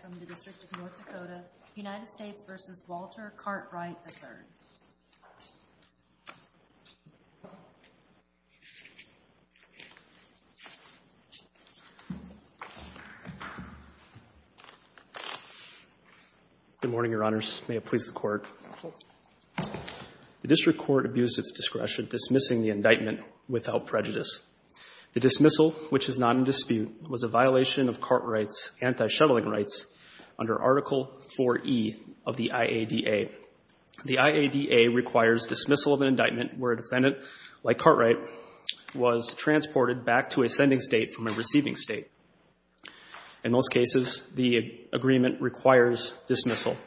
from the District of North Dakota, United States v. Walter Cartwright, III. Good morning, Your Honors. May it please the Court. The District Court abused its discretion, dismissing the indictment without prejudice. The dismissal, which is not in dispute, was a violation of Cartwright's anti-shuttling rights under Article IV-E of the IADA. The IADA requires dismissal of an indictment where a defendant, like Cartwright, was transported back to a sending state from a receiving state. In most cases, the agreement requires dismissal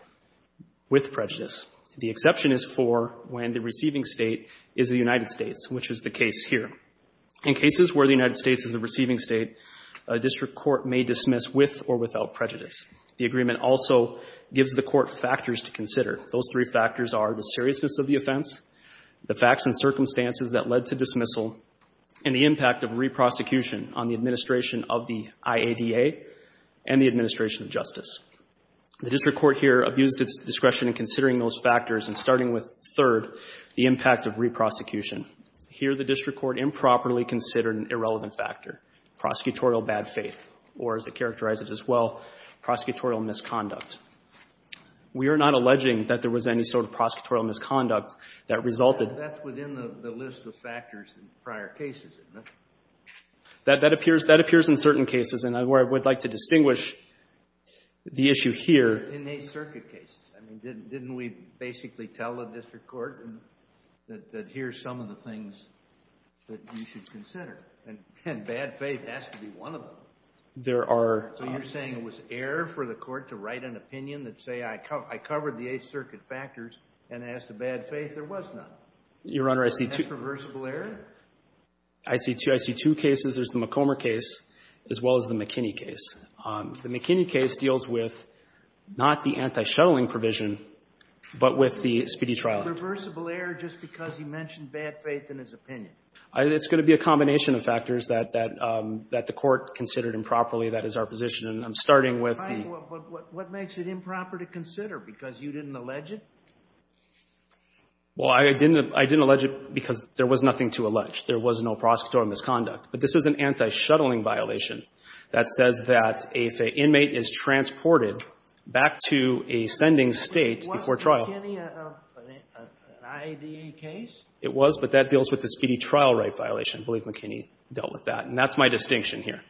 with prejudice. The exception is for when the receiving state is the United States, which is the case here. In cases where the United States is the receiving state, a district court may dismiss with or without prejudice. The agreement also gives the Court factors to consider. Those three factors are the seriousness of the offense, the facts and circumstances that led to dismissal, and the impact of re-prosecution on the administration of the IADA and the administration of justice. The district court here abused its discretion in considering those factors and starting with, third, the impact of re-prosecution. Here, the district court improperly considered an irrelevant factor, prosecutorial bad faith, or as it characterized it as well, prosecutorial misconduct. We are not alleging that there was any sort of prosecutorial misconduct that resulted. That's within the list of factors in prior cases, isn't it? That appears in certain cases, and I would like to distinguish the issue here. In the Eighth Circuit cases, I mean, didn't we basically tell the district court that here's some of the things that you should consider? And bad faith has to be one of them. There are. So you're saying it was error for the court to write an opinion that say, I covered the Eighth Circuit factors and as to bad faith, there was none? Your Honor, I see two. Is that reversible error? I see two. I see two cases. There's the McComber case as well as the McKinney case. The McKinney case deals with not the anti-shuttling provision, but with the speedy trial. Reversible error just because he mentioned bad faith in his opinion? It's going to be a combination of factors that the court considered improperly. That is our position. And I'm starting with the — Fine. But what makes it improper to consider, because you didn't allege it? Well, I didn't allege it because there was nothing to allege. There was no prosecutorial misconduct. But this is an anti-shuttling violation that says that if an inmate is transported back to a sending state before trial — Was McKinney an IADA case? It was, but that deals with the speedy trial right violation. I believe McKinney dealt with that. And that's my distinction here.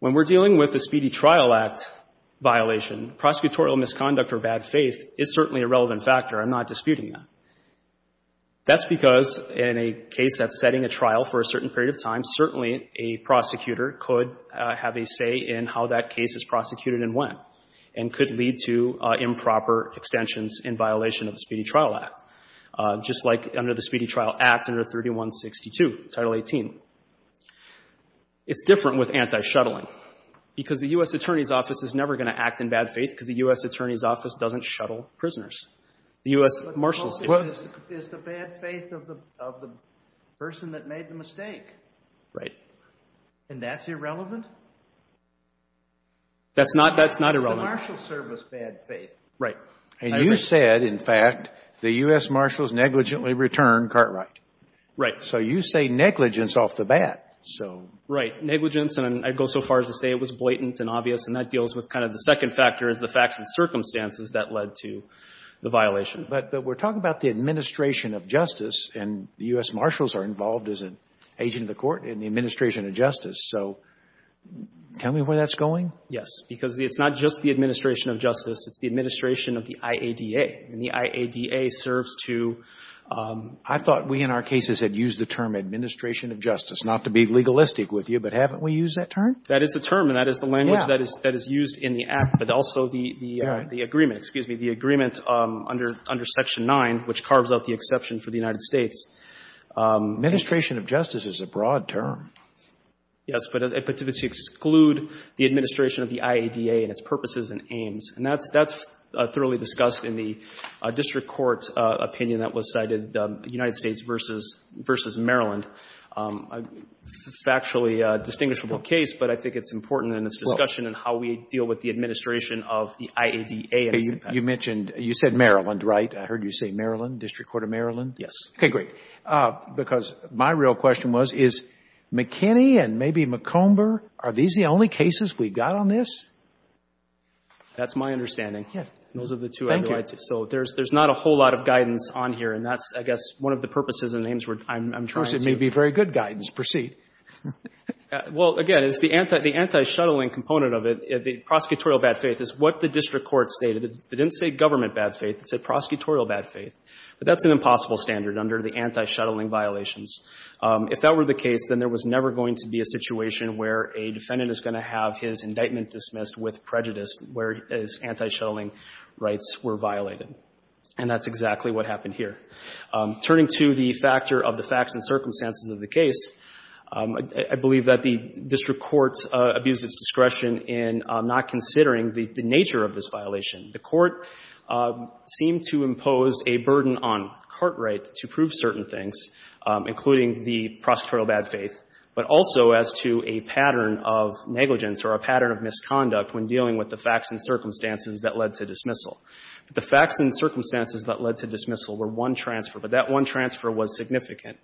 When we're dealing with the Speedy Trial Act violation, prosecutorial misconduct or bad faith is certainly a relevant factor. I'm not disputing that. That's because in a case that's setting a trial for a certain period of time, certainly a prosecutor could have a say in how that case is prosecuted and when, and could lead to improper extensions in violation of the Speedy Trial Act, just like under the Speedy Trial Act under 3162, Title 18. It's different with anti-shuttling, because the U.S. Attorney's Office is never going to act in bad faith because the U.S. Attorney's Office doesn't shuttle prisoners. The U.S. Marshals — Well, it's the bad faith of the person that made the mistake. Right. And that's irrelevant? That's not irrelevant. It's the Marshals' service bad faith. Right. And you said, in fact, the U.S. Marshals negligently returned Cartwright. Right. So you say negligence off the bat, so — Right. Negligence. And I'd go so far as to say it was blatant and obvious. And that deals with kind of the second factor is the facts and circumstances that led to the violation. But we're talking about the administration of justice, and the U.S. Marshals are involved as an agent of the court in the administration of justice. So tell me where that's going? Yes. Because it's not just the administration of justice. It's the administration of the IADA. And the IADA serves to — I thought we, in our cases, had used the term administration of justice, not to be legalistic with you. But haven't we used that term? That is the term, and that is the language that is used in the act, but also the agreement. Excuse me. The agreement under Section 9, which carves out the exception for the United States. Administration of justice is a broad term. Yes. But to exclude the administration of the IADA and its purposes and aims. And that's thoroughly discussed in the district court's opinion that was cited, United States v. Maryland. A factually distinguishable case, but I think it's important in its discussion in how we deal with the administration of the IADA. You mentioned — you said Maryland, right? I heard you say Maryland, District Court of Maryland. Yes. Okay, great. Because my real question was, is McKinney and maybe McComber, are these the only cases we've got on this? That's my understanding. Yes. Those are the two I would like to — Thank you. So there's not a whole lot of guidance on here, and that's, I guess, one of the purposes and aims I'm trying to — Of course, it may be very good guidance. Proceed. Well, again, it's the anti-shuttling component of it. The prosecutorial bad faith is what the district court stated. It didn't say government bad faith. It said prosecutorial bad faith. But that's an impossible standard under the anti-shuttling violations. If that were the case, then there was never going to be a situation where a defendant is going to have his indictment dismissed with prejudice where his anti-shuttling rights were violated. And that's exactly what happened here. Turning to the factor of the facts and circumstances of the case, I believe that the district court abused its discretion in not considering the nature of this violation. The court seemed to impose a burden on Cartwright to prove certain things, including the prosecutorial bad faith, but also as to a pattern of negligence or a pattern of misconduct when dealing with the facts and circumstances that led to dismissal. The facts and circumstances that led to dismissal were one transfer, but that one transfer was significant.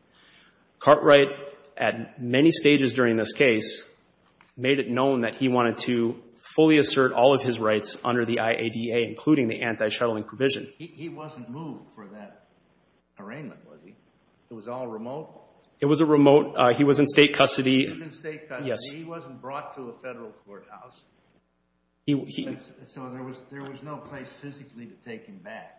Cartwright, at many stages during this case, made it known that he wanted to fully assert all of his rights under the IADA, including the anti-shuttling provision. He wasn't moved for that arraignment, was he? It was all remote? It was a remote. He was in state custody. He was in state custody. Yes. He wasn't brought to a federal courthouse. So there was no place physically to take him back.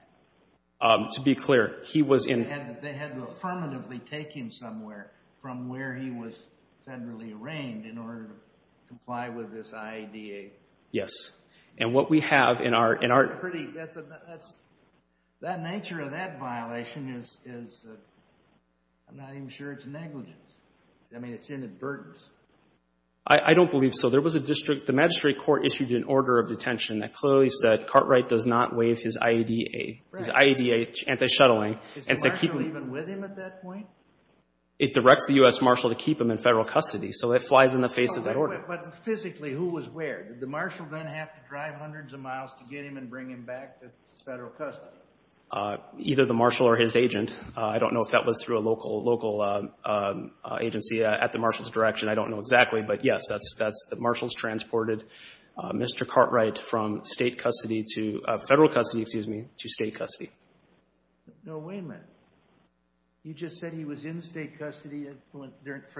To be clear, he was in... They had to affirmatively take him somewhere from where he was federally arraigned in order to comply with this IADA. Yes. And what we have in our... That nature of that violation is, I'm not even sure it's negligence. I mean, it's inadvertence. I don't believe so. There was a district... The magistrate court issued an order of detention that clearly said Cartwright does not waive his IADA, his IADA anti-shuttling. Is the marshal even with him at that point? It directs the U.S. marshal to keep him in federal custody, so it flies in the face of that order. But physically, who was where? Did the marshal then have to drive hundreds of miles to get him and bring him back to federal custody? Either the marshal or his agent. I don't know if that was through a local agency at the marshal's direction. I don't know exactly. But yes, the marshal's transported Mr. Cartwright from federal custody to state custody. No, wait a minute. You just said he was in state custody for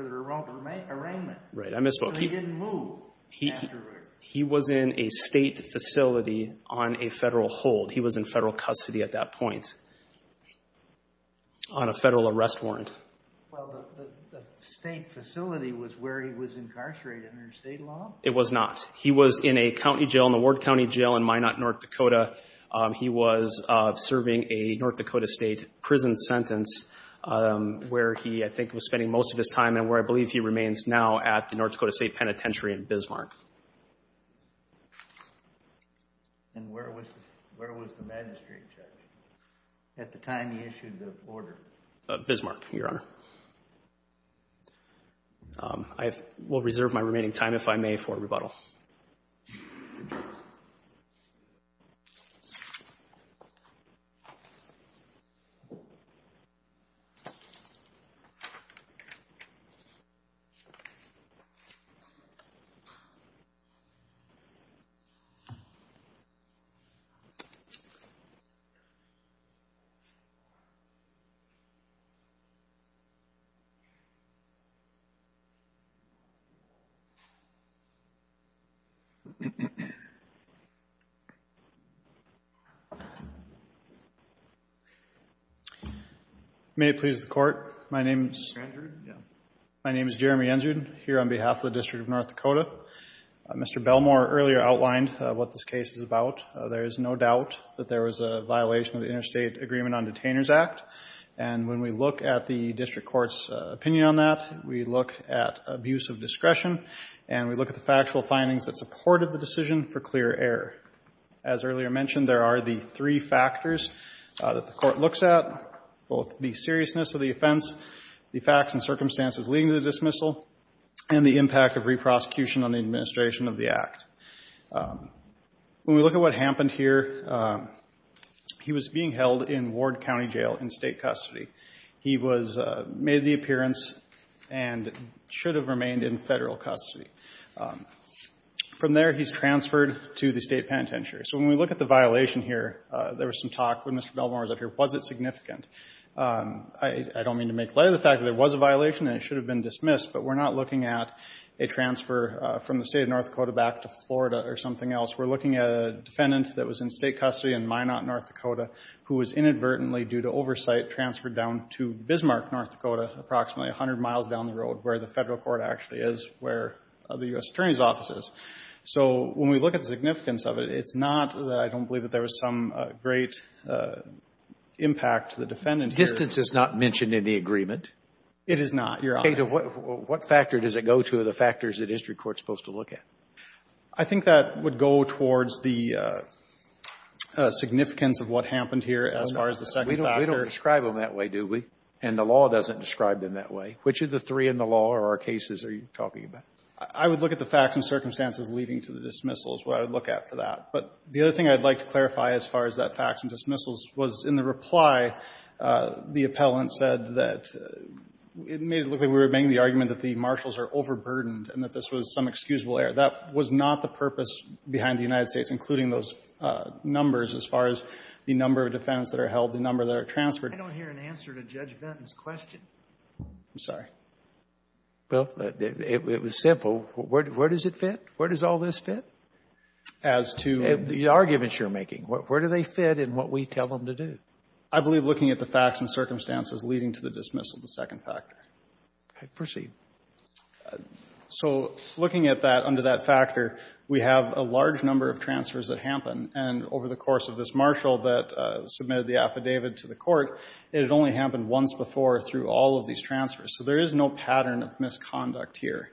the arraignment. Right, I misspoke. But he didn't move afterward. He was in a state facility on a federal hold. He was in federal custody at that point on a federal arrest warrant. Well, the state facility was where he was incarcerated under state law? It was not. He was in a county jail, in the Ward County Jail in Minot, North Dakota. He was serving a North Dakota State prison sentence where he, I think, was spending most of his time and where I believe he remains now at the North Dakota State Penitentiary in Bismarck. And where was the magistrate judge? At the time he issued the order? Bismarck, Your Honor. I will reserve my remaining time, if I may, for rebuttal. May it please the Court. My name is Jeremy Ensrud, here on behalf of the District of North Dakota. Mr. Belmore earlier outlined what this case is about. There is no doubt that there was a violation of the Interstate Agreement on Detainers Act and when we look at the District Court's opinion on that, we look at abuse of discretion and we look at the factual findings that supported the decision for clear error. As earlier mentioned, there are the three factors that the Court looks at, both the seriousness of the offense, the facts and circumstances leading to the dismissal, and the impact of re-prosecution on the administration of the Act. When we look at what happened here, he was being held in Ward County Jail in state custody. He made the appearance and should have remained in federal custody. From there, he's transferred to the State Penitentiary. So when we look at the violation here, there was some talk when Mr. Belmore was up here, was it significant? I don't mean to make light of the fact that there was a violation and it should have been dismissed, but we're not looking at a transfer from the State of North Dakota back to Florida or something else. We're looking at a defendant that was in state custody in Minot, North Dakota, who was inadvertently, due to oversight, transferred down to Bismarck, North Dakota, approximately 100 miles down the road, where the federal court actually is, where the U.S. Attorney's Office is. So when we look at the significance of it, it's not that I don't believe that there was some great impact. The defendant here is not mentioned in the agreement? It is not, Your Honor. Okay. What factor does it go to, the factors that district court is supposed to look at? I think that would go towards the significance of what happened here as far as the second factor. We don't describe them that way, do we? And the law doesn't describe them that way. Which of the three in the law or our cases are you talking about? I would look at the facts and circumstances leading to the dismissals, what I would look at for that. But the other thing I'd like to clarify as far as that facts and dismissals was in the reply, the appellant said that it made it look like we were making the argument that the marshals are overburdened and that this was some excusable error. That was not the purpose behind the United States, including those numbers as far as the number of defendants that are held, the number that are transferred. I don't hear an answer to Judge Benton's question. I'm sorry. Well, it was simple. Where does it fit? Where does all this fit as to the arguments you're making? Where do they fit in what we tell them to do? I believe looking at the facts and circumstances leading to the dismissal, the second factor. Proceed. So looking at that, under that factor, we have a large number of transfers that happen. And over the course of this marshal that submitted the affidavit to the Court, it had only happened once before through all of these transfers. So there is no pattern of misconduct here.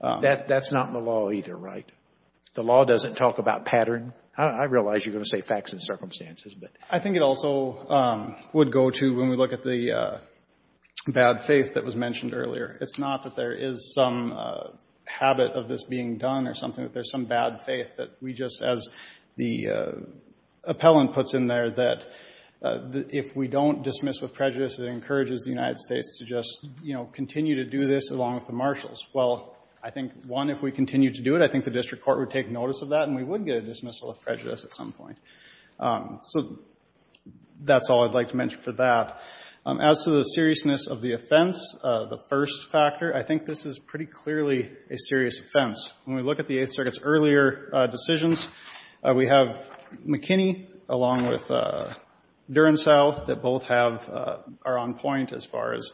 That's not in the law either, right? The law doesn't talk about pattern. I realize you're going to say facts and circumstances. I think it also would go to when we look at the bad faith that was mentioned earlier. It's not that there is some habit of this being done or something, that there's some bad faith that we just, as the appellant puts in there, that if we don't dismiss with prejudice, it encourages the United States to just, you know, continue to do this along with the marshals. Well, I think, one, if we continue to do it, I think the district court would take full of prejudice at some point. So that's all I'd like to mention for that. As to the seriousness of the offense, the first factor, I think this is pretty clearly a serious offense. When we look at the Eighth Circuit's earlier decisions, we have McKinney along with Durancell that both have, are on point as far as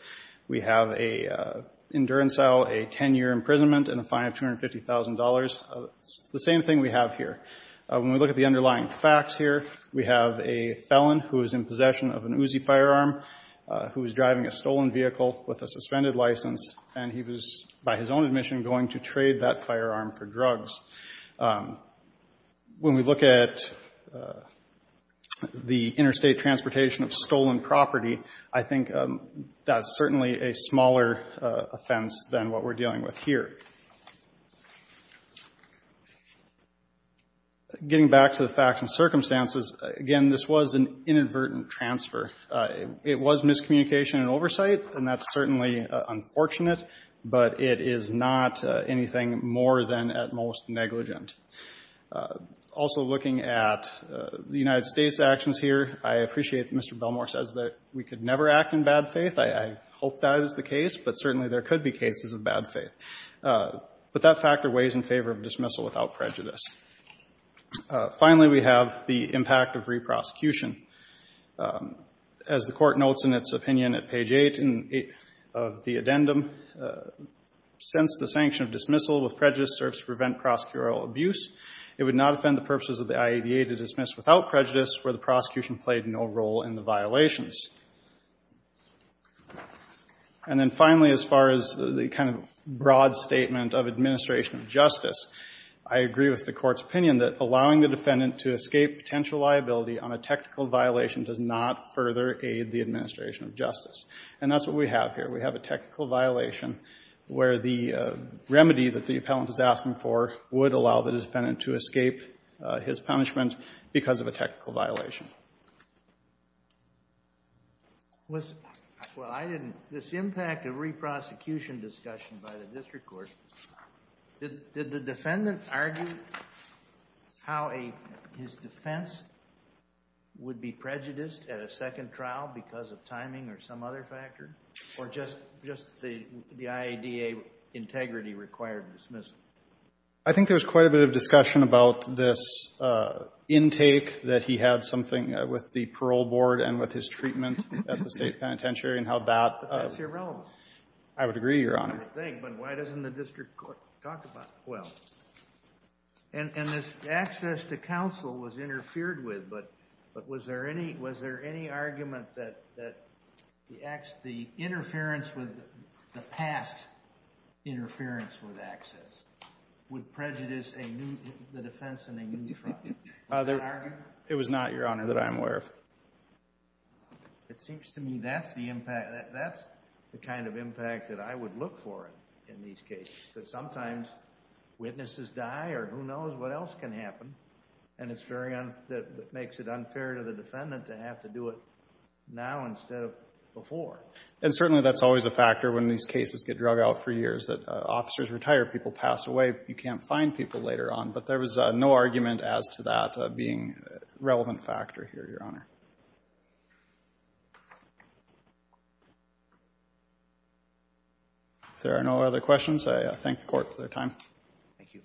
we have a, in Durancell, a 10-year imprisonment and a fine of $250,000. It's the same thing we have here. When we look at the underlying facts here, we have a felon who is in possession of an Uzi firearm, who is driving a stolen vehicle with a suspended license, and he was, by his own admission, going to trade that firearm for drugs. When we look at the interstate transportation of stolen property, I think that's certainly a smaller offense than what we're dealing with here. Getting back to the facts and circumstances, again, this was an inadvertent transfer. It was miscommunication and oversight, and that's certainly unfortunate, but it is not anything more than at most negligent. Also looking at the United States' actions here, I appreciate that Mr. Belmore says that we could never act in bad faith. I hope that is the case, but certainly there could be cases of bad faith. But that factor weighs in favor of dismissal without prejudice. Finally, we have the impact of reprosecution. As the Court notes in its opinion at page 8 of the addendum, since the sanction of dismissal with prejudice serves to prevent prosecutorial abuse, it would not offend the purposes of the IADA to dismiss without prejudice where the prosecution played no role in the violations. And then finally, as far as the kind of broad statement of administration of justice, I agree with the Court's opinion that allowing the defendant to escape potential liability on a technical violation does not further aid the administration of justice. And that's what we have here. We have a technical violation where the remedy that the appellant is asking for would allow the defendant to escape his punishment because of a technical violation. Well, I didn't. This impact of reprosecution discussion by the district court, did the defendant argue how his defense would be prejudiced at a second trial because of timing or some other factor, or just the IADA integrity required dismissal? I think there's quite a bit of discussion about this intake that he had something with the parole board and with his treatment at the state penitentiary and how that But that's irrelevant. I would agree, Your Honor. But why doesn't the district court talk about it? Well, and this access to counsel was interfered with, but was there any argument that the interference with the past interference with access would prejudice the defense in a new trial? Was there an argument? It was not, Your Honor, that I'm aware of. It seems to me that's the impact. That's the kind of impact that I would look for in these cases, that sometimes witnesses die or who knows what else can happen. And it's very unfair. It makes it unfair to the defendant to have to do it now instead of before. And certainly that's always a factor when these cases get drug out for years, that officers retire, people pass away, you can't find people later on. But there was no argument as to that being a relevant factor here, Your Honor. If there are no other questions, I thank the court for their time. Thank you.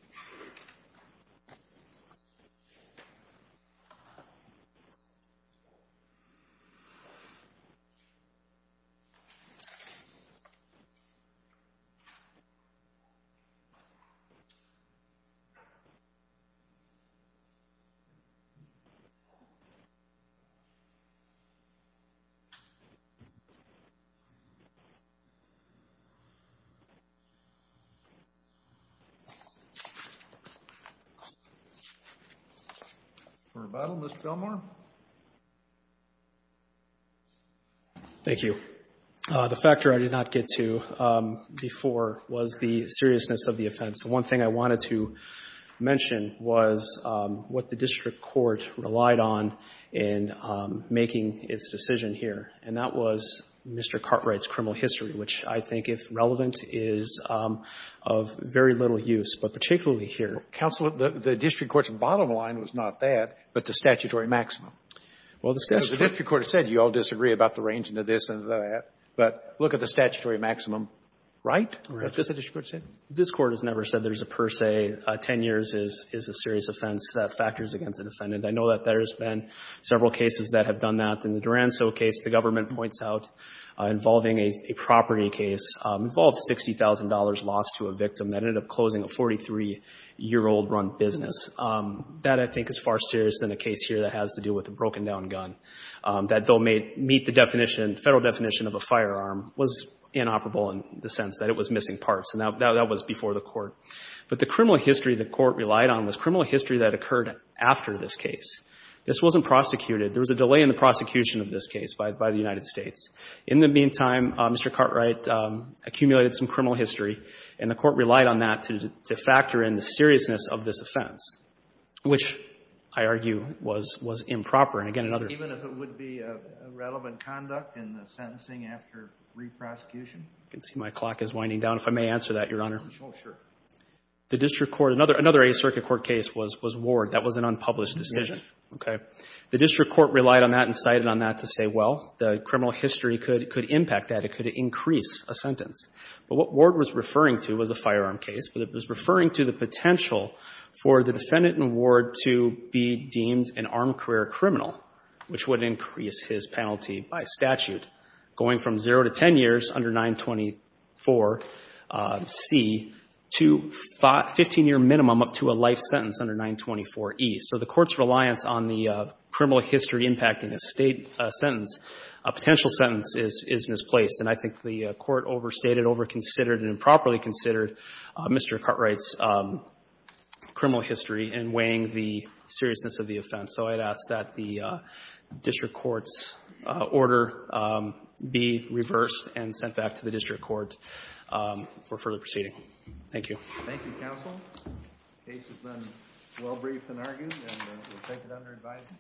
For rebuttal, Mr. Gilmour. Thank you. The factor I did not get to before was the seriousness of the offense. The one thing I wanted to mention was what the district court relied on in making its decision here. And that was Mr. Cartwright's criminal history, which I think, if relevant, is of very little use, but particularly here. Counsel, the district court's bottom line was not that, but the statutory maximum. Well, the statute. The district court has said you all disagree about the range into this and that. But look at the statutory maximum right that the district court said. This Court has never said there's a per se. Ten years is a serious offense. That factors against a defendant. I know that there's been several cases that have done that. In the Duranso case, the government points out, involving a property case, involved $60,000 lost to a victim that ended up closing a 43-year-old-run business. That, I think, is far serious than a case here that has to do with a broken-down gun. That they'll meet the definition, Federal definition, of a firearm was inoperable in the sense that it was missing parts. And that was before the Court. But the criminal history the Court relied on was criminal history that occurred after this case. This wasn't prosecuted. There was a delay in the prosecution of this case by the United States. In the meantime, Mr. Cartwright accumulated some criminal history, and the Court relied on that to factor in the seriousness of this offense, which, I argue, was improper. And, again, another Even if it would be a relevant conduct in the sentencing after re-prosecution? You can see my clock is winding down. If I may answer that, Your Honor. Oh, sure. The district court, another Eighth Circuit court case was Ward. That was an unpublished decision. Yes. Okay. The district court relied on that and cited on that to say, well, the criminal history could impact that. It could increase a sentence. But what Ward was referring to was a firearm case, but it was referring to the potential for the defendant in Ward to be deemed an armed career criminal, which would increase his penalty by statute. Going from 0 to 10 years under 924C to 15-year minimum up to a life sentence under 924E. So the Court's reliance on the criminal history impacting a state sentence, a potential sentence, is misplaced. And I think the Court overstated, over-considered, and improperly considered Mr. Cartwright's criminal history in weighing the seriousness of the offense. So I'd ask that the district court's order be reversed and sent back to the district court for further proceeding. Thank you. Thank you, counsel. The case has been well briefed and argued, and we'll take it under advisement.